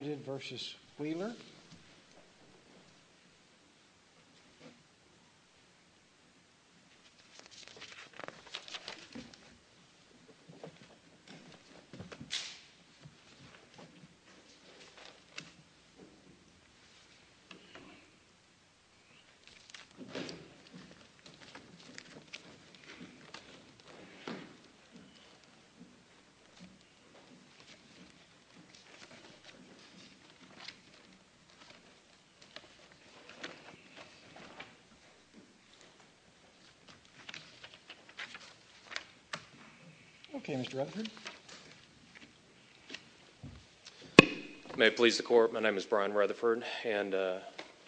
Limited v. Wheeler Okay, Mr. Rutherford. May it please the Court, my name is Brian Rutherford and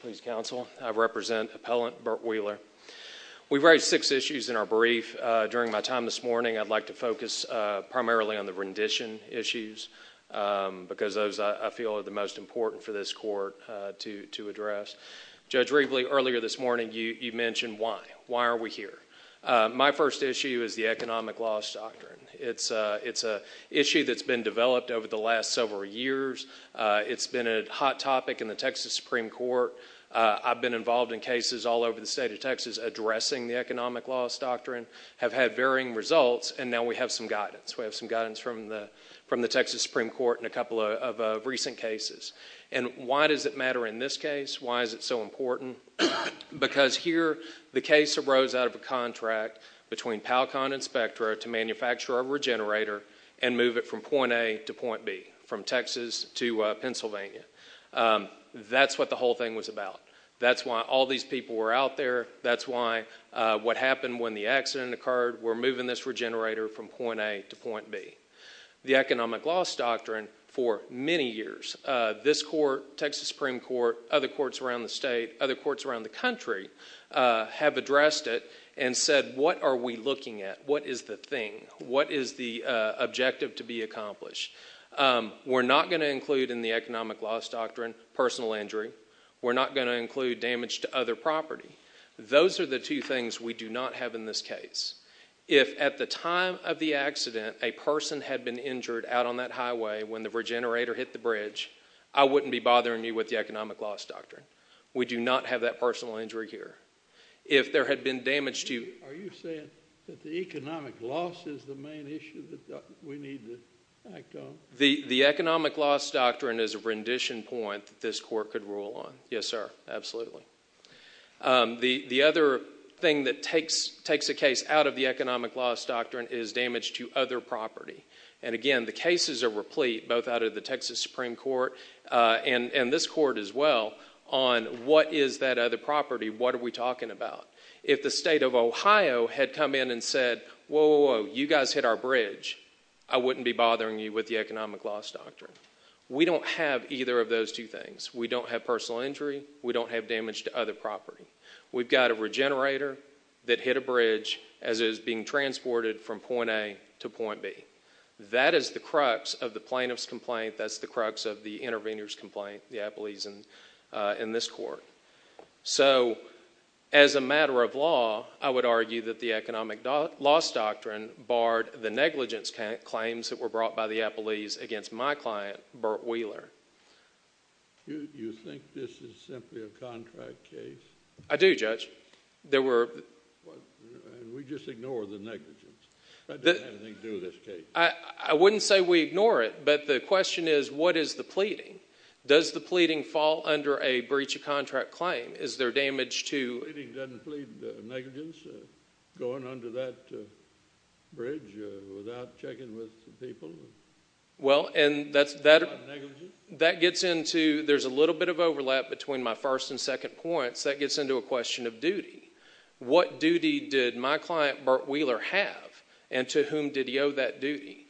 please counsel, I represent Appellant Bert Wheeler. We've raised six issues in our brief. During my time this morning, I'd like to focus primarily on the rendition issues because those I feel are the most important for this Court to address. Judge Rievele, earlier this morning, you mentioned why. Why are we here? My first issue is the Economic Loss Doctrine. It's an issue that's been developed over the last several years. It's been a hot topic in the Texas Supreme Court. I've been involved in cases all over the state of Texas addressing the Economic Loss Doctrine, have had varying results, and now we have some guidance. We have some guidance from the Texas Supreme Court in a couple of recent cases. Why does it matter in this case? Why is it so important? Because here, the case arose out of a contract between Pal-Con and Spectra to manufacture a regenerator and move it from point A to point B, from Texas to Pennsylvania. That's what the whole thing was about. That's why all these people were out there. That's why what happened when the accident occurred, we're moving this regenerator from point A to point B. The Economic Loss Doctrine, for many years, this court, Texas Supreme Court, other courts around the state, other courts around the country have addressed it and said, what are we looking at? What is the thing? What is the objective to be accomplished? We're not going to include in the Economic Loss Doctrine personal injury. We're not going to include damage to other property. Those are the two things we do not have in this case. If at the time of the accident, a person had been injured out on that highway when the regenerator hit the bridge, I wouldn't be bothering you with the Economic Loss Doctrine. We do not have that personal injury here. If there had been damage to you- Are you saying that the economic loss is the main issue that we need to act on? The Economic Loss Doctrine is a rendition point that this court could rule on. Yes, sir. Absolutely. The other thing that takes a case out of the Economic Loss Doctrine is damage to other property. Again, the cases are replete, both out of the Texas Supreme Court and this court as well, on what is that other property? What are we talking about? If the state of Ohio had come in and said, whoa, whoa, whoa, you guys hit our bridge, I wouldn't be bothering you with the Economic Loss Doctrine. We don't have either of those two things. We don't have personal injury. We don't have damage to other property. We've got a regenerator that hit a bridge as it was being transported from point A to point B. That is the crux of the plaintiff's complaint. That's the crux of the intervener's complaint, the Appellee's in this court. As a matter of law, I would argue that the Economic Loss Doctrine barred the negligence claims that were brought by the Appellee's against my client, Burt Wheeler. You think this is simply a contract case? I do, Judge. We just ignore the negligence. I don't think anything to do with this case. I wouldn't say we ignore it, but the question is, what is the pleading? Does the pleading fall under a breach of contract claim? Is there damage to... The pleading doesn't plead negligence, going under that bridge without checking with the people? Well, and that gets into... There's a little bit of overlap between my first and second points. That gets into a question of duty. What duty did my client, Burt Wheeler, have, and to whom did he owe that duty?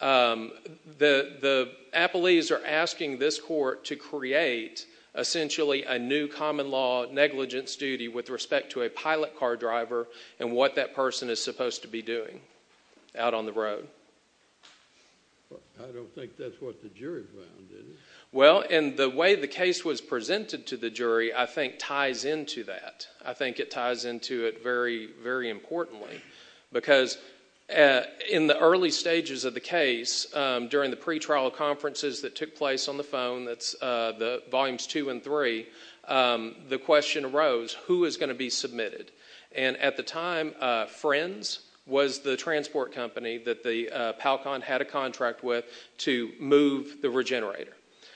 The Appellee's are asking this court to create, essentially, a new common law negligence duty with respect to a pilot car driver and what that person is supposed to be doing out on the road. I don't think that's what the jury found, is it? Well, and the way the case was presented to the jury, I think, ties into that. I think it ties into it very, very importantly, because in the early stages of the case, during the pretrial conferences that took place on the phone, that's volumes two and three, the question arose, who is going to be submitted? At the time, Friends was the transport company that the PALCON had a contract with to move the Regenerator.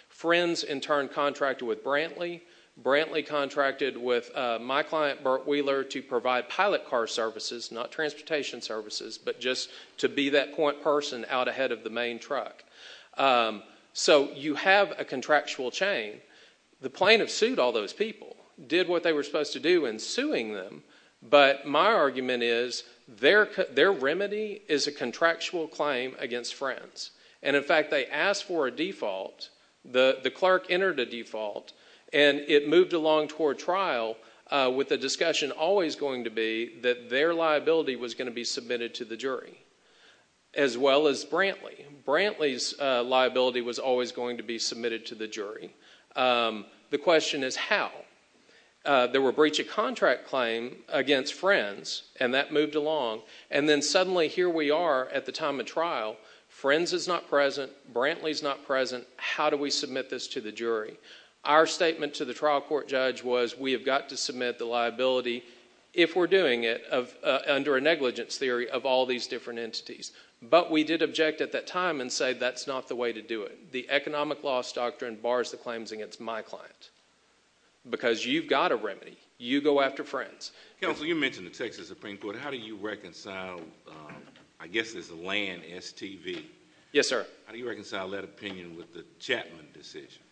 Friends, in turn, contracted with Brantley. Brantley contracted with my client, Burt Wheeler, to provide pilot car services, not transportation services, but just to be that point person out ahead of the main truck. You have a contractual chain. The plaintiff sued all those people, did what they were supposed to do in suing them, but my argument is their remedy is a contractual claim against Friends. In fact, they asked for a default. The clerk entered a default, and it moved along toward trial with the discussion always going to be that their liability was going to be submitted to the jury, as well as Brantley. Brantley's liability was always going to be submitted to the jury. The question is how? There were breach of contract claims against Friends, and that moved along, and then suddenly here we are at the time of trial, Friends is not present, Brantley is not present, how do we submit this to the jury? Our statement to the trial court judge was, we have got to submit the liability, if we're doing it, under a negligence theory of all these different entities, but we did object at that time and say that's not the way to do it. The economic loss doctrine bars the claims against my client, because you've got a remedy, you go after Friends. Counsel, you mentioned the Texas Supreme Court, how do you reconcile, I guess it's a land STV. Yes, sir. How do you reconcile that opinion with the Chapman decision?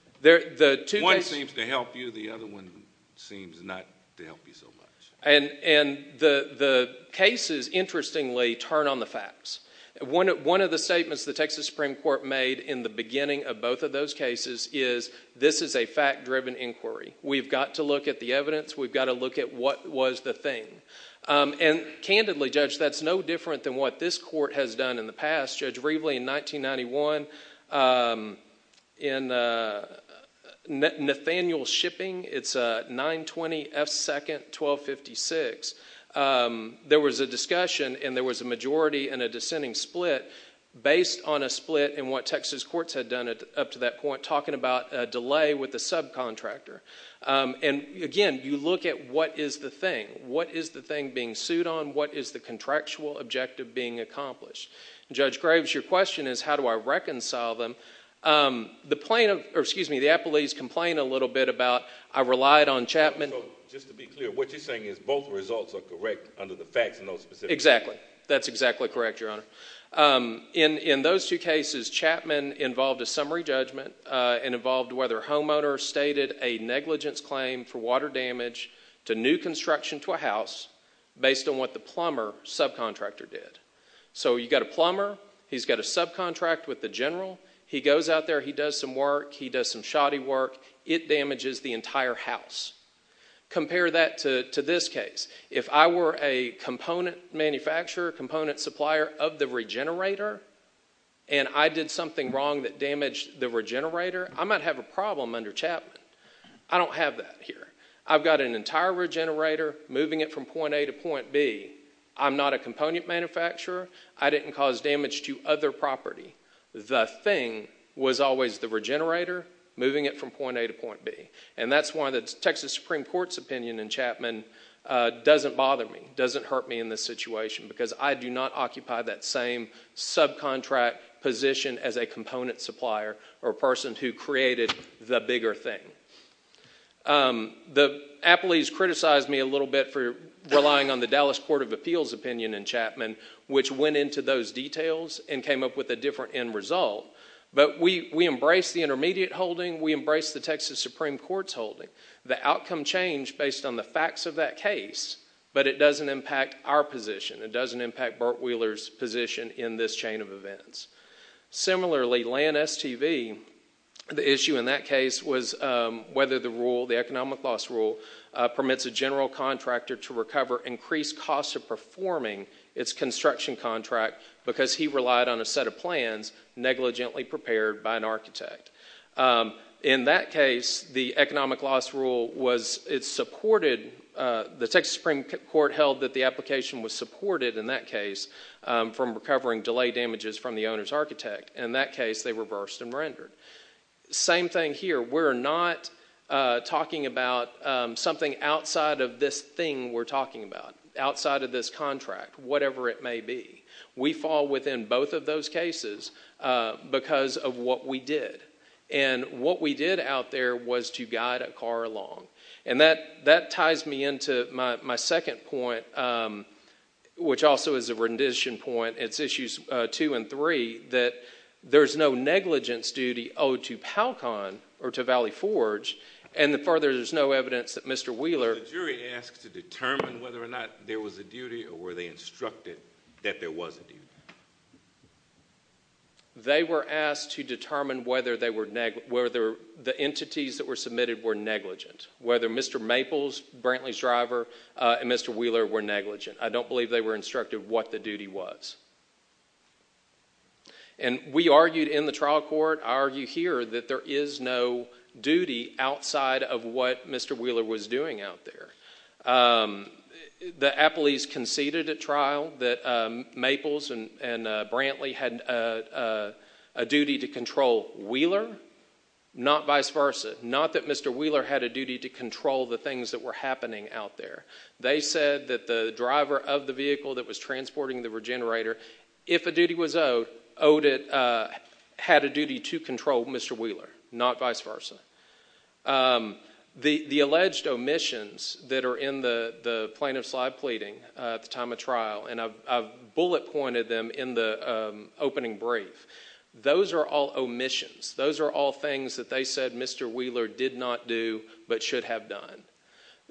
One seems to help you, the other one seems not to help you so much. The cases, interestingly, turn on the facts. One of the statements the Texas Supreme Court made in the beginning of both of those cases is this is a fact-driven inquiry, we've got to look at the evidence, we've got to look at what was the thing. And candidly, Judge, that's no different than what this court has done in the past. Judge Rievele in 1991, in Nathaniel Shipping, it's 920 F. 2nd, 1256, there was a discussion and there was a majority and a dissenting split based on a split in what Texas courts had done up to that point, talking about a delay with the subcontractor. And again, you look at what is the thing, what is the thing being sued on, what is the contractual objective being accomplished? Judge Graves, your question is how do I reconcile them? The plaintiff, or excuse me, the appellees complain a little bit about, I relied on Chapman. So just to be clear, what you're saying is both results are correct under the facts in those specific cases. Exactly. That's exactly correct, Your Honor. In those two cases, Chapman involved a summary judgment and involved whether a homeowner stated a negligence claim for water damage to new construction to a house based on what the plumber subcontractor did. So you've got a plumber, he's got a subcontract with the general, he goes out there, he does some work, he does some shoddy work, it damages the entire house. Compare that to this case. If I were a component manufacturer, component supplier of the regenerator, and I did something wrong that damaged the regenerator, I might have a problem under Chapman. I don't have that here. I've got an entire regenerator, moving it from point A to point B. I'm not a component manufacturer, I didn't cause damage to other property. The thing was always the regenerator, moving it from point A to point B. And that's why the Texas Supreme Court's opinion in Chapman doesn't bother me, doesn't hurt me in this situation because I do not occupy that same subcontract position as a component supplier or person who created the bigger thing. The appellees criticized me a little bit for relying on the Dallas Court of Appeals opinion in Chapman, which went into those details and came up with a different end result. But we embrace the intermediate holding, we embrace the Texas Supreme Court's holding. The outcome changed based on the facts of that case, but it doesn't impact our position. It doesn't impact Burt Wheeler's position in this chain of events. Similarly, Land STV, the issue in that case was whether the rule, the economic loss rule, permits a general contractor to recover increased costs of performing its construction contract because he relied on a set of plans negligently prepared by an architect. In that case, the economic loss rule was, it supported, the Texas Supreme Court held that the application was supported in that case from recovering delayed damages from the owner's architect. In that case, they reversed and rendered. Same thing here. We're not talking about something outside of this thing we're talking about, outside of this contract, whatever it may be. We fall within both of those cases because of what we did. And what we did out there was to guide a car along. And that ties me into my second point, which also is a rendition point. It's issues two and three, that there's no negligence duty owed to Palcon or to Valley Forge, and further, there's no evidence that Mr. Wheeler... They were asked to determine whether the entities that were submitted were negligent, whether Mr. Maples, Brantley's driver, and Mr. Wheeler were negligent. I don't believe they were instructed what the duty was. And we argued in the trial court, I argue here, that there is no duty outside of what Mr. Wheeler was doing out there. The appellees conceded at trial that Maples and Brantley had a duty to control Wheeler, not vice versa. Not that Mr. Wheeler had a duty to control the things that were happening out there. They said that the driver of the vehicle that was transporting the regenerator, if a duty was owed, owed it... had a duty to control Mr. Wheeler, not vice versa. The alleged omissions that are in the plaintiff's live pleading at the time of trial, and I bullet pointed them in the opening brief, those are all omissions. Those are all things that they said Mr. Wheeler did not do, but should have done.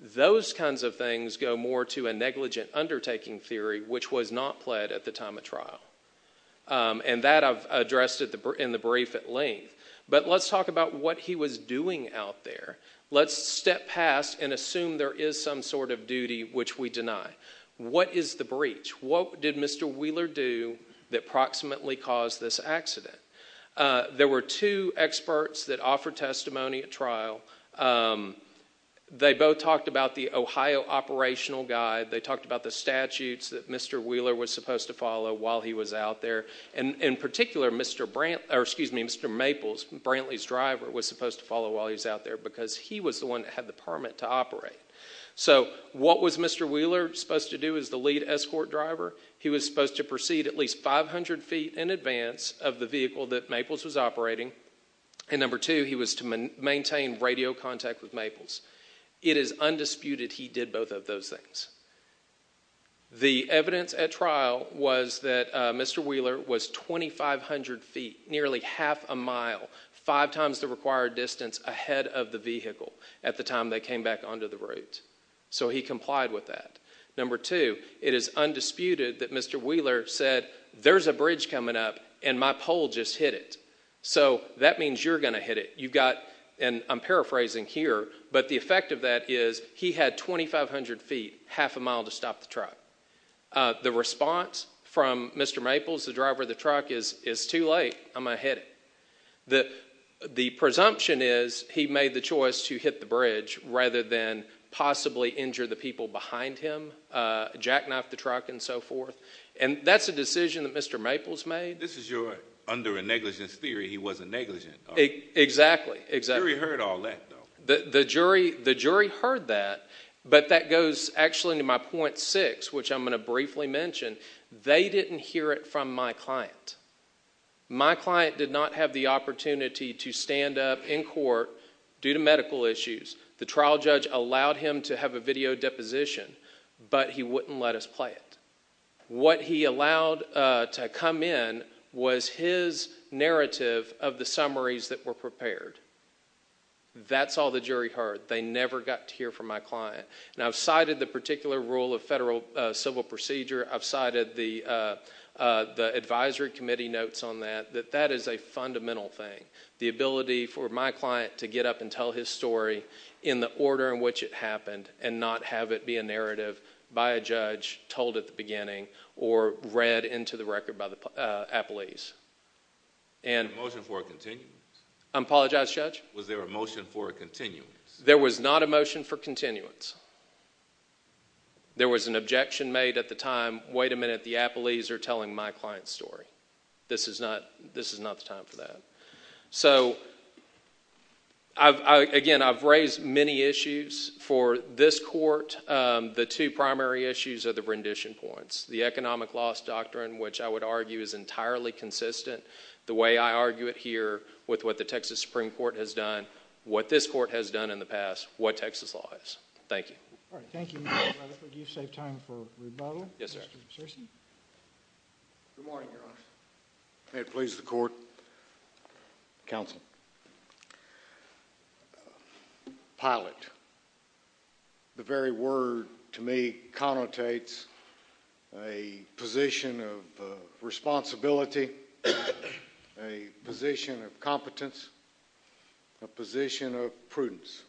Those kinds of things go more to a negligent undertaking theory, which was not pled at the time of trial. And that I've addressed in the brief at length. But let's talk about what he was doing out there. Let's step past and assume there is some sort of duty which we deny. What is the breach? What did Mr. Wheeler do that proximately caused this accident? There were two experts that offered testimony at trial. They both talked about the Ohio operational guide. They talked about the statutes that Mr. Wheeler was supposed to follow while he was out there. In particular, Mr. Maples, Brantley's driver, was supposed to follow while he was out there because he was the one that had the permit to operate. So what was Mr. Wheeler supposed to do as the lead escort driver? He was supposed to proceed at least 500 feet in advance of the vehicle that Maples was operating. And number two, he was to maintain radio contact with Maples. It is undisputed he did both of those things. The evidence at trial was that Mr. Wheeler was 2,500 feet, nearly half a mile, five times the required distance ahead of the vehicle at the time they came back onto the route. So he complied with that. Number two, it is undisputed that Mr. Wheeler said, there's a bridge coming up and my pole just hit it. So that means you're going to hit it. And I'm paraphrasing here, but the effect of that is he had 2,500 feet, half a mile, to stop the truck. The response from Mr. Maples, the driver of the truck, is too late, I'm going to hit it. The presumption is he made the choice to hit the bridge rather than possibly injure the people behind him, jackknife the truck and so forth. And that's a decision that Mr. Maples made. This is your under a negligence theory, he wasn't negligent. Exactly, exactly. The jury heard all that though. The jury heard that, but that goes actually to my point six, which I'm going to briefly mention. They didn't hear it from my client. My client did not have the opportunity to stand up in court due to medical issues. The trial judge allowed him to have a video deposition, but he wouldn't let us play it. What he allowed to come in was his narrative of the summaries that were prepared. That's all the jury heard. They never got to hear from my client. And I've cited the particular rule of federal civil procedure, I've cited the advisory committee notes on that, that that is a fundamental thing. The ability for my client to get up and tell his story in the order in which it happened and not have it be a narrative by a judge told at the beginning or read into the record by the appellees. Was there a motion for a continuance? I apologize, Judge? Was there a motion for a continuance? There was not a motion for continuance. There was an objection made at the time, wait a minute, the appellees are telling my client's story. This is not the time for that. So again, I've raised many issues for this court. The two primary issues are the rendition points, the economic loss doctrine, which I would argue is entirely consistent the way I argue it here with what the Texas Supreme Court has done, what this court has done in the past, what Texas law is. Thank you. All right, thank you, Mr. Rutherford. Do you save time for rebuttal? Yes, sir. Mr. Searcy? Good morning, Your Honor. May it please the court, counsel. Pilot. The very word to me connotates a position of responsibility, a position of competence, a position of prudence.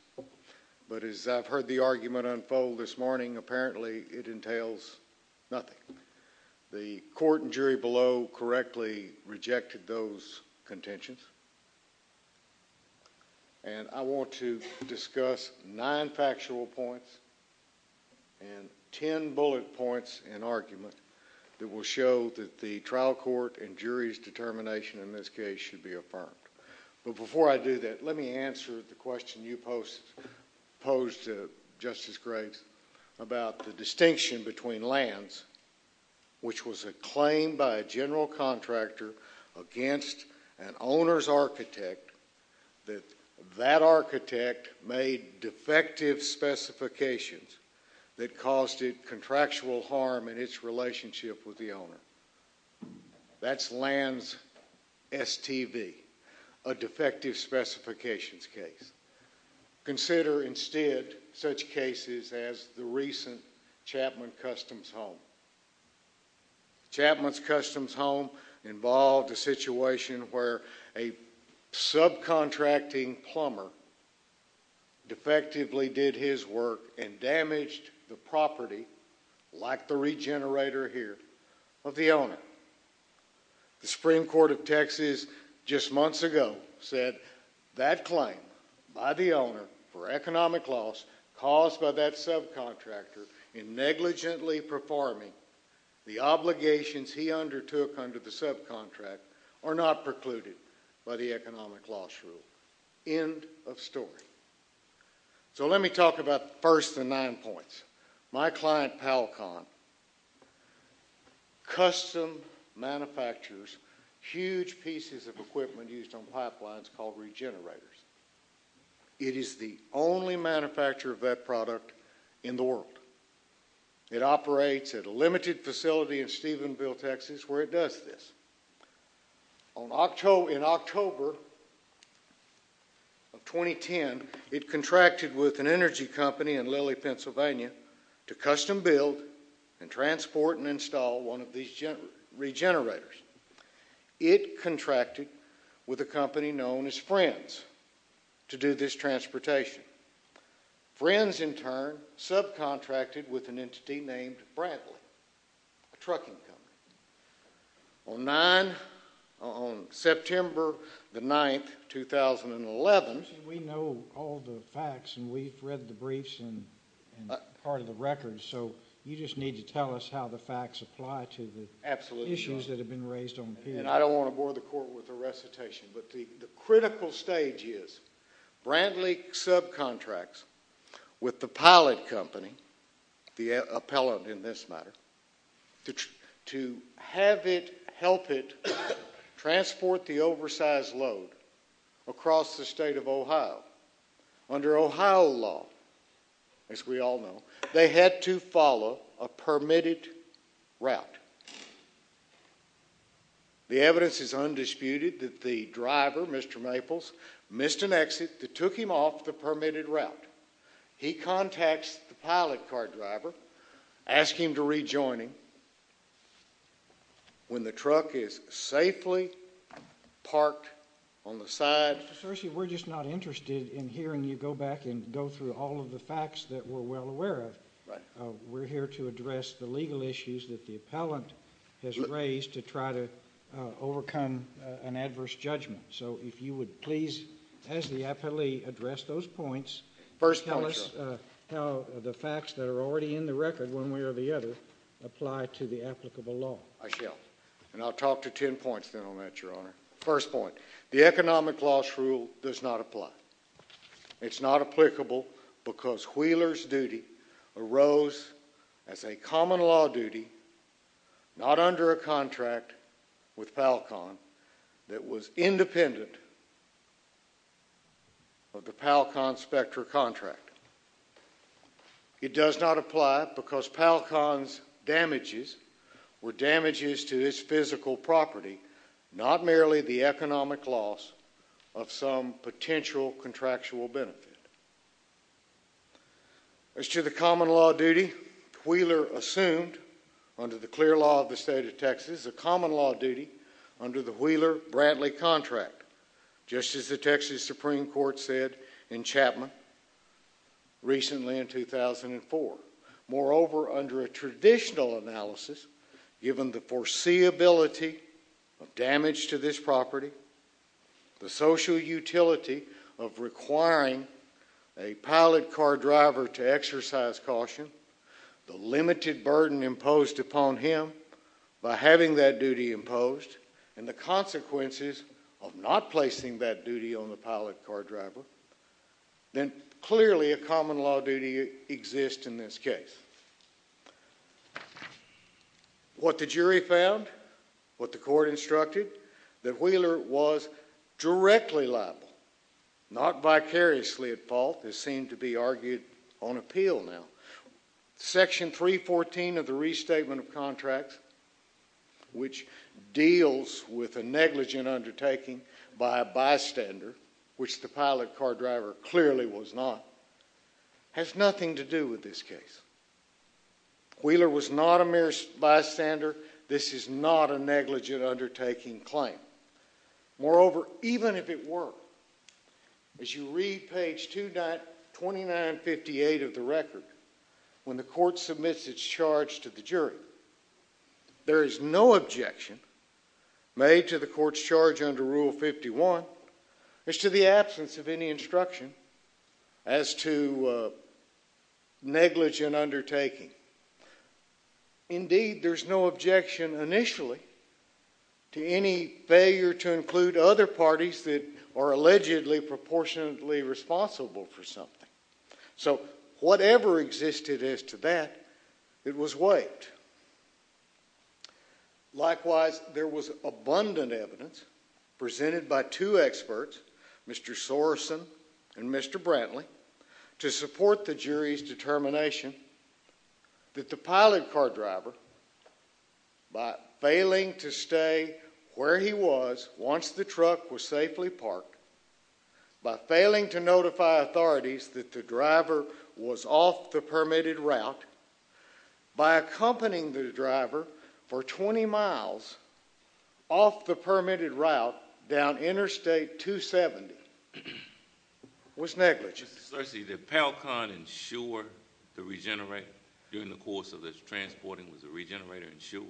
But as I've heard the argument unfold this morning, apparently it entails nothing. The court and jury below correctly rejected those contentions. And I want to discuss nine factual points and ten bullet points in argument that will show that the trial court and jury's determination in this case should be affirmed. But before I do that, let me answer the question you posed to Justice Graves about the distinction between LANS, which was a claim by a general contractor against an owner's architect that that architect made defective specifications that caused it contractual harm in its relationship with the owner. That's LANS STV, a defective specifications case. Consider instead such cases as the recent Chapman Customs Home. Chapman's Customs Home involved a situation where a subcontracting plumber defectively did his work and damaged the property, like the regenerator here, of the owner. The Supreme Court of Texas just months ago said that claim by the owner for economic loss caused by that subcontractor in negligently performing the obligations he undertook under the subcontract are not precluded by the economic loss rule. End of story. So let me talk about the first of the nine points. My client, Palcon, custom manufactures huge pieces of equipment used on pipelines called regenerators. It is the only manufacturer of that product in the world. It operates at a limited facility in Stephenville, Texas, where it does this. In October of 2010, it contracted with an energy company in Lilly, Pennsylvania to custom build and transport and install one of these regenerators. It contracted with a company known as Friends to do this transportation. Friends in turn subcontracted with an entity named Bradley, a trucking company. On September the 9th, 2011. We know all the facts and we've read the briefs and part of the records, so you just need to tell us how the facts apply to the issues that have been raised on the panel. I don't want to bore the court with a recitation, but the critical stage is Bradley subcontracts with the pilot company, the appellant in this matter, to have it, help it transport the oversized load across the state of Ohio. Under Ohio law, as we all know, they had to follow a permitted route. The evidence is undisputed that the driver, Mr. Maples, missed an exit that took him off the permitted route. He contacts the pilot car driver, asks him to rejoin him when the truck is safely parked on the side. Mr. Searcy, we're just not interested in hearing you go back and go through all of the facts that we're well aware of. We're here to address the legal issues that the appellant has raised to try to overcome an adverse judgment. So if you would please, as the appellee, address those points, tell us how the facts that are already in the record, one way or the other, apply to the applicable law. I shall. And I'll talk to ten points then on that, Your Honor. First point. The economic loss rule does not apply. It's not applicable because Wheeler's duty arose as a common law duty, not under a contract with Palcon that was independent of the Palcon Spectra contract. It does not apply because Palcon's damages were damages to its physical property, not merely the economic loss of some potential contractual benefit. As to the common law duty, Wheeler assumed, under the clear law of the state of Texas, a common law duty under the Wheeler-Bradley contract, just as the Texas Supreme Court said in Chapman recently in 2004. Moreover, under a traditional analysis, given the foreseeability of damage to this property, the social utility of requiring a pilot car driver to exercise caution, the limited burden imposed upon him by having that duty imposed, and the consequences of not placing that duty on the pilot car driver, then clearly a common law duty exists in this case. What the jury found, what the court instructed, that Wheeler was directly liable, not vicariously at fault, is seen to be argued on appeal now. Section 314 of the Restatement of Contracts, which deals with a negligent undertaking by a bystander, which the pilot car driver clearly was not, has nothing to do with this case. Wheeler was not a mere bystander. This is not a negligent undertaking claim. Moreover, even if it were, as you read page 2958 of the record, the state of Texas has when the court submits its charge to the jury. There is no objection made to the court's charge under Rule 51 as to the absence of any instruction as to negligent undertaking. Indeed, there's no objection initially to any failure to include other parties that are allegedly proportionately responsible for something. So whatever existed as to that, it was wiped. Likewise, there was abundant evidence presented by two experts, Mr. Soreson and Mr. Brantley, to support the jury's determination that the pilot car driver, by failing to stay where he was once the truck was safely parked, by failing to notify authorities that the driver was off the permitted route, by accompanying the driver for 20 miles off the permitted route down Interstate 270, was negligent. Mr. Searcy, did Pell-Kahn ensure the regenerator during the course of this transporting? Was the regenerator insured?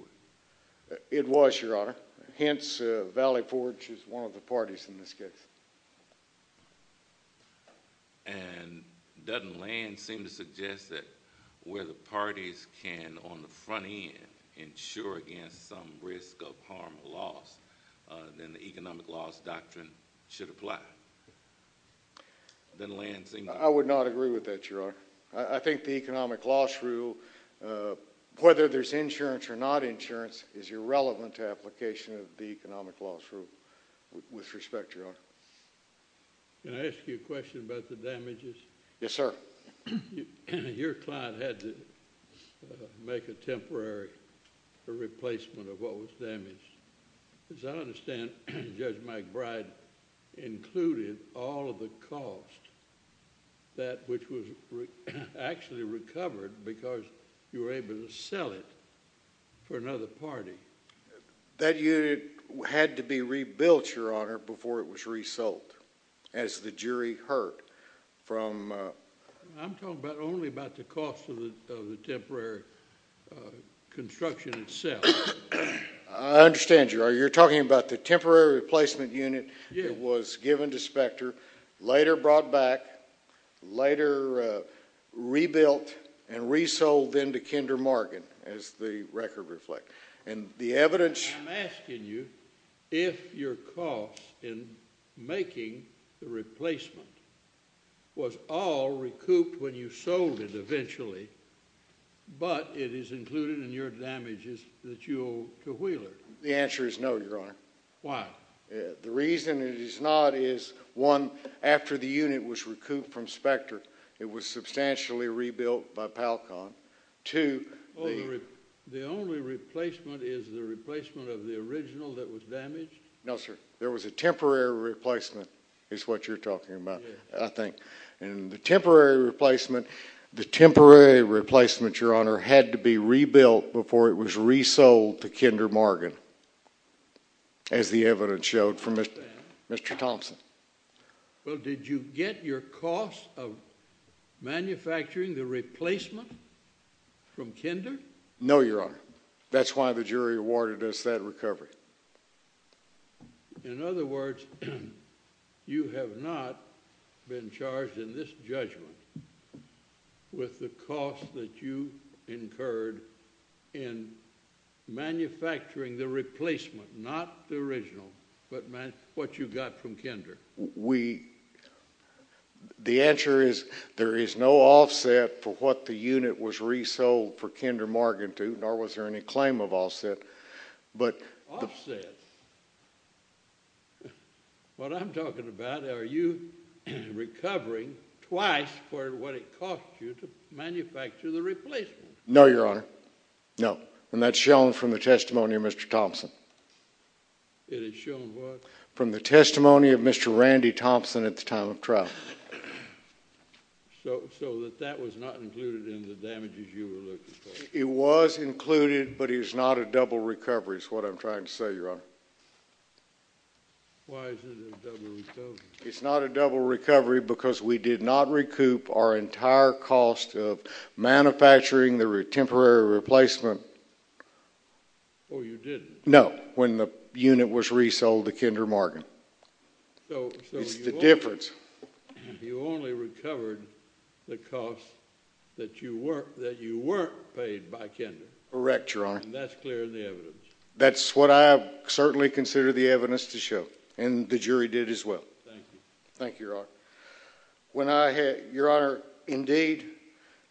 It was, Your Honor. Hence, Valley Forge is one of the parties in this case. And doesn't Land seem to suggest that where the parties can, on the front end, insure against some risk of harm or loss, then the economic loss doctrine should apply? I would not agree with that, Your Honor. I think the economic loss rule, whether there's insurance or not insurance, is irrelevant to application of the economic loss rule. With respect, Your Honor. Can I ask you a question about the damages? Yes, sir. Your client had to make a temporary replacement of what was damaged. As I understand, Judge McBride included all of the cost, that which was actually recovered because you were able to sell it for another party. That unit had to be rebuilt, Your Honor, before it was resold, as the jury heard. I'm talking only about the cost of the temporary construction itself. I understand, Your Honor. You're talking about the temporary replacement unit that was given to Specter, later brought back, later rebuilt, and resold then to Kinder Market. As the record reflects. The evidence... I'm asking you if your cost in making the replacement was all recouped when you sold it eventually, but it is included in your damages that you owe to Wheeler. The answer is no, Your Honor. Why? The reason it is not is, one, after the unit was recouped from Specter, it was substantially rebuilt by Palkon, two... The only replacement is the replacement of the original that was damaged? No, sir. There was a temporary replacement, is what you're talking about, I think. The temporary replacement, Your Honor, had to be rebuilt before it was resold to Kinder Market, as the evidence showed from Mr. Thompson. Well, did you get your cost of manufacturing the replacement from Kinder? No, Your Honor. That's why the jury awarded us that recovery. In other words, you have not been charged in this judgment with the cost that you incurred in manufacturing the replacement, not the original, but what you got from Kinder. The answer is, there is no offset for what the unit was resold for Kinder Market to, nor was there any claim of offset, but... Offset? What I'm talking about, are you recovering twice for what it cost you to manufacture the replacement? No, Your Honor. No. And that's shown from the testimony of Mr. Thompson. It is shown what? From the testimony of Mr. Randy Thompson at the time of trial. So that that was not included in the damages you were looking for? It was included, but it is not a double recovery, is what I'm trying to say, Your Honor. Why is it a double recovery? It's not a double recovery because we did not recoup our entire cost of manufacturing the temporary replacement... Oh, you didn't? No, when the unit was resold to Kinder Market. It's the difference. So you only recovered the cost that you weren't paid by Kinder? Correct, Your Honor. And that's clear in the evidence? That's what I certainly consider the evidence to show, and the jury did as well. Thank you. Thank you, Your Honor. When I... Your Honor, indeed,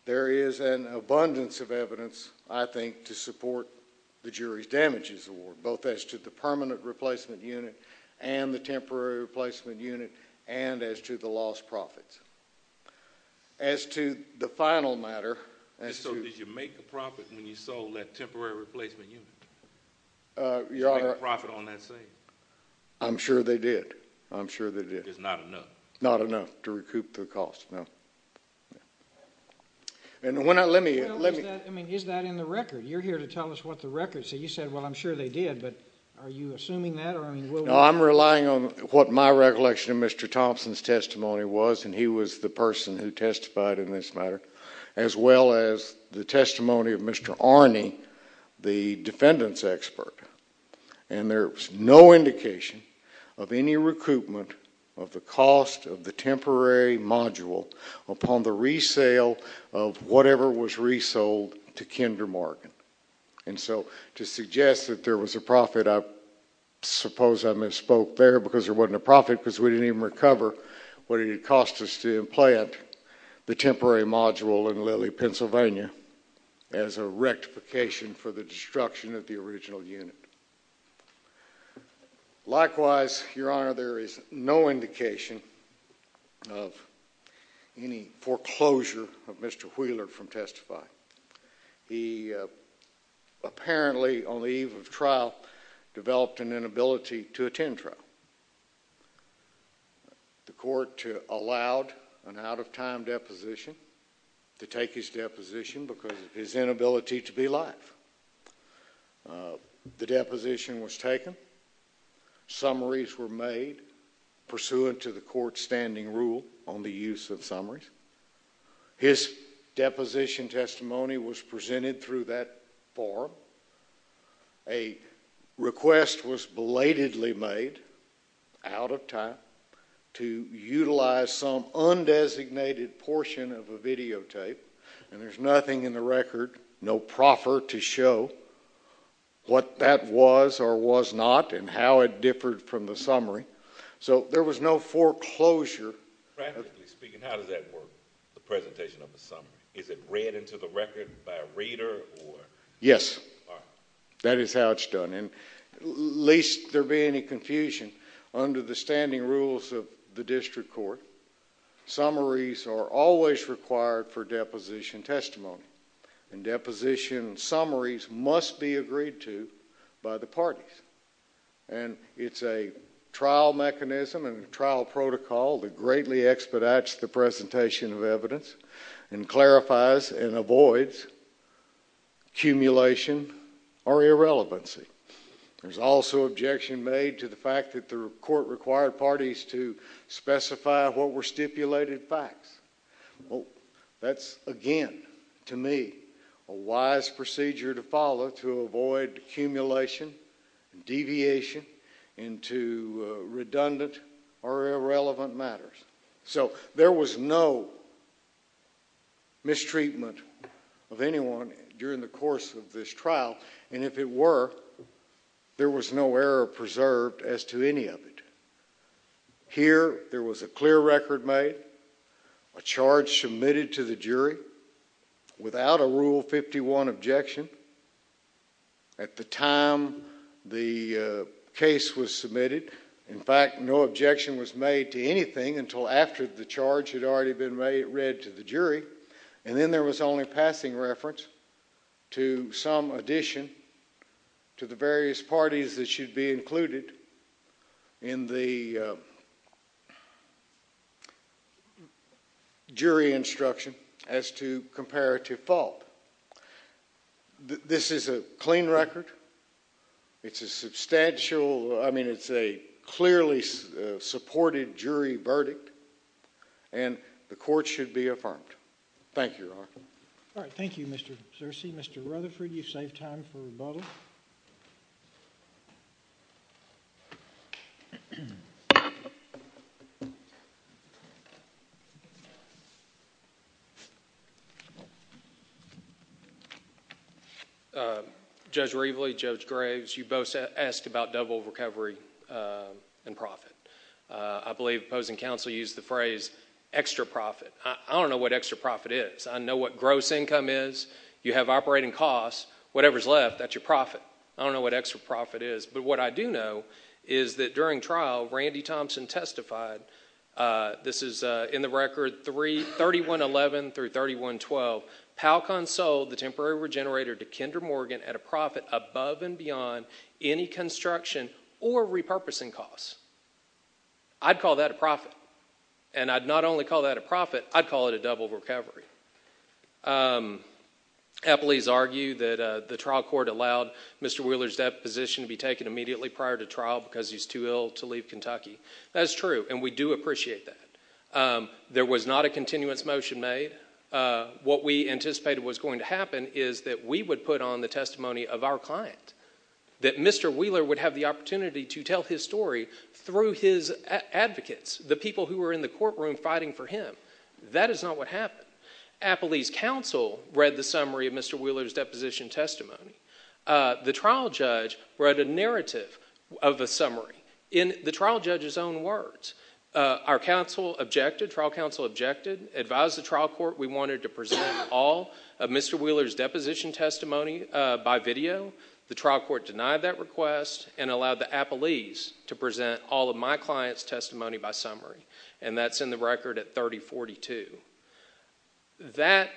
there is an abundance of evidence, I think, to support the jury's damages award, both as to the permanent replacement unit and the temporary replacement unit, and as to the lost profits. As to the final matter... So did you make a profit when you sold that temporary replacement unit? Did you make a profit on that sale? I'm sure they did. I'm sure they did. It's not enough? Not enough to recoup the cost, no. And when I... let me... Well, is that... I mean, is that in the record? You're here to tell us what the record... So you said, well, I'm sure they did, but are you assuming that, or, I mean, will... No, I'm relying on what my recollection of Mr. Thompson's testimony was, and he was the person who testified in this matter, as well as the testimony of Mr. Arney, the defendant's testimony. No indication of any recoupment of the cost of the temporary module upon the resale of whatever was resold to Kinder Morgan. And so, to suggest that there was a profit, I suppose I misspoke there, because there wasn't a profit, because we didn't even recover what it had cost us to implant the temporary module in Lilly, Pennsylvania, as a rectification for the destruction of the original unit. Likewise, Your Honor, there is no indication of any foreclosure of Mr. Wheeler from testifying. He apparently, on the eve of trial, developed an inability to attend trial. The court allowed an out-of-time deposition to take his deposition because of his inability to be live. The deposition was taken. Summaries were made pursuant to the court's standing rule on the use of summaries. His deposition testimony was presented through that forum. A request was belatedly made, out of time, to utilize some undesignated portion of a videotape, and there's nothing in the record, no proffer, to show what that was or was not and how it differed from the summary. So, there was no foreclosure. Practically speaking, how does that work, the presentation of the summary? Is it read into the record by a reader? Yes. That is how it's done. And least there be any confusion, under the standing rules of the district court, summaries are always required for deposition testimony. And deposition summaries must be agreed to by the parties. And it's a trial mechanism and trial protocol that greatly expedites the presentation of evidence and clarifies and avoids accumulation or irrelevancy. There's also objection made to the fact that the court required parties to specify what were stipulated facts. Well, that's, again, to me, a wise procedure to follow to avoid accumulation, deviation, into redundant or irrelevant matters. So, there was no mistreatment of anyone during the course of this trial, and if it were, there was no error preserved as to any of it. Here, there was a clear record made, a charge submitted to the jury without a Rule 51 objection. At the time the case was submitted, in fact, no objection was made to anything until after the charge had already been read to the jury. And then there was only passing reference to some addition to the various parties that should be included in the jury instruction as to comparative fault. This is a clean record. It's a substantial, I mean, it's a clearly supported jury verdict, and the court should be affirmed. Thank you, Your Honor. All right, thank you, Mr. Searcy. Mr. Rutherford, you've saved time for rebuttal. Judge Reveley, Judge Graves, you both asked about double recovery and profit. I believe opposing counsel used the phrase extra profit. I don't know what extra profit is. I know what gross income is. You have operating costs. Whatever's left, that's your profit. I don't know what extra profit is, but what I do know is that during trial, Randy Thompson testified. This is in the record 3111 through 3112. PALCON sold the temporary regenerator to Kendra Morgan at a profit above and beyond any construction or repurposing costs. I'd call that a profit. And I'd not only call that a profit, I'd call it a double recovery. Appley's argued that the trial court allowed Mr. Wheeler's deposition to be taken immediately prior to trial because he's too ill to leave Kentucky. That is true, and we do appreciate that. There was not a continuance motion made. What we anticipated was going to happen is that we would put on the testimony of our client, that Mr. Wheeler would have the opportunity to tell his story through his advocates, the people who were in the courtroom fighting for him. That is not what happened. Appley's counsel read the summary of Mr. Wheeler's deposition testimony. The trial judge read a narrative of a summary in the trial judge's own words. Our trial counsel objected, advised the trial court we wanted to present all of Mr. Wheeler's deposition testimony by video. The trial court denied that request and allowed the Appley's to present all of my client's testimony by summary, and that's in the record at 3042. That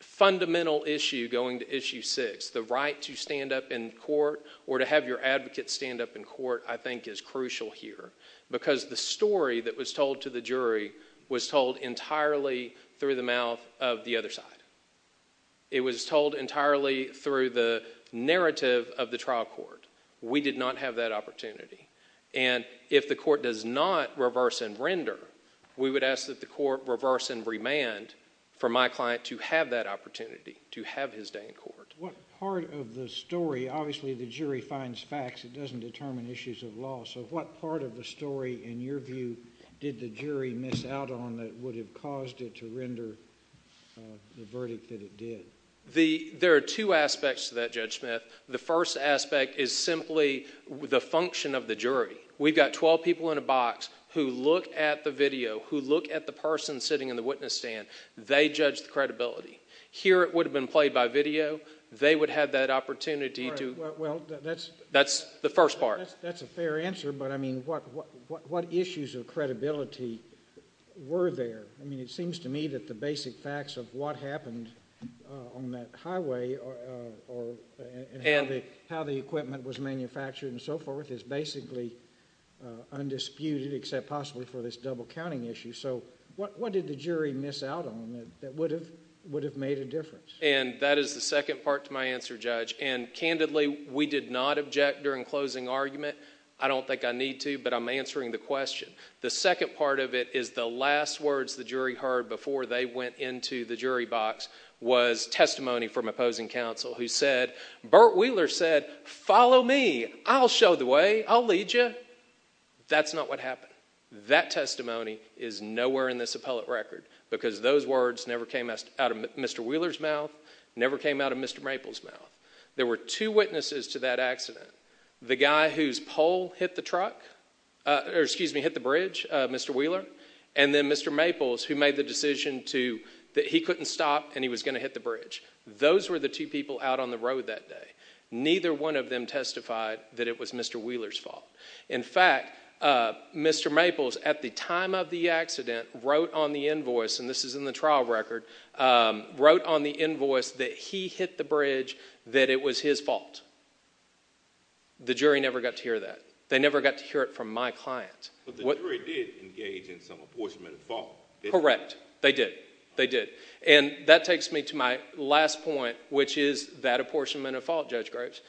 fundamental issue going to Issue 6, the right to stand up in court or to have your advocate stand up in court, I think is crucial here because the story that was told to the jury was told entirely through the mouth of the other side. It was told entirely through the narrative of the trial court. We did not have that opportunity, and if the court does not reverse and render, we would ask that the court reverse and remand for my client to have that opportunity, to have his day in court. What part of the story, obviously the jury finds facts, it doesn't determine issues of law. So what part of the story, in your view, did the jury miss out on that would have caused it to render the verdict that it did? There are two aspects to that, Judge Smith. The first aspect is simply the function of the jury. We've got 12 people in a box who look at the video, who look at the person sitting in the witness stand. They judge the credibility. Here it would have been played by video. They would have had that opportunity. That's the first part. That's a fair answer, but, I mean, what issues of credibility were there? I mean, it seems to me that the basic facts of what happened on that highway or how the equipment was manufactured and so forth is basically undisputed except possibly for this double-counting issue. So what did the jury miss out on that would have made a difference? And that is the second part to my answer, Judge. And, candidly, we did not object during closing argument. I don't think I need to, but I'm answering the question. The second part of it is the last words the jury heard before they went into the jury box was testimony from opposing counsel who said, Burt Wheeler said, follow me, I'll show the way, I'll lead you. That's not what happened. That testimony is nowhere in this appellate record because those words never came out of Mr. Wheeler's mouth, never came out of Mr. Maples' mouth. There were two witnesses to that accident, the guy whose pole hit the bridge, Mr. Wheeler, and then Mr. Maples who made the decision that he couldn't stop and he was going to hit the bridge. Those were the two people out on the road that day. Neither one of them testified that it was Mr. Wheeler's fault. In fact, Mr. Maples, at the time of the accident, wrote on the invoice, and this is in the trial record, wrote on the invoice that he hit the bridge, that it was his fault. The jury never got to hear that. They never got to hear it from my client. But the jury did engage in some apportionment of fault. Correct. They did. They did. And that takes me to my last point, which is that apportionment of fault, Judge Graves.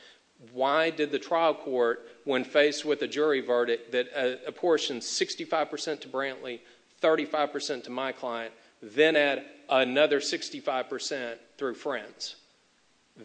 Why did the trial court, when faced with a jury verdict that apportioned 65% to Brantley, 35% to my client, then add another 65% through Friends?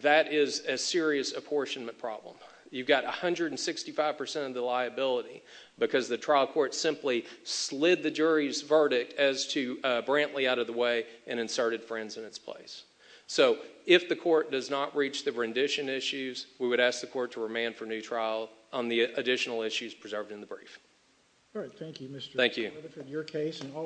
That is a serious apportionment problem. You've got 165% of the liability because the trial court simply slid the jury's verdict as to Brantley out of the way and inserted Friends in its place. So if the court does not reach the rendition issues, we would ask the court to remand for new trial on the additional issues preserved in the brief. All right. Thank you, Mr. Rutherford. Thank you.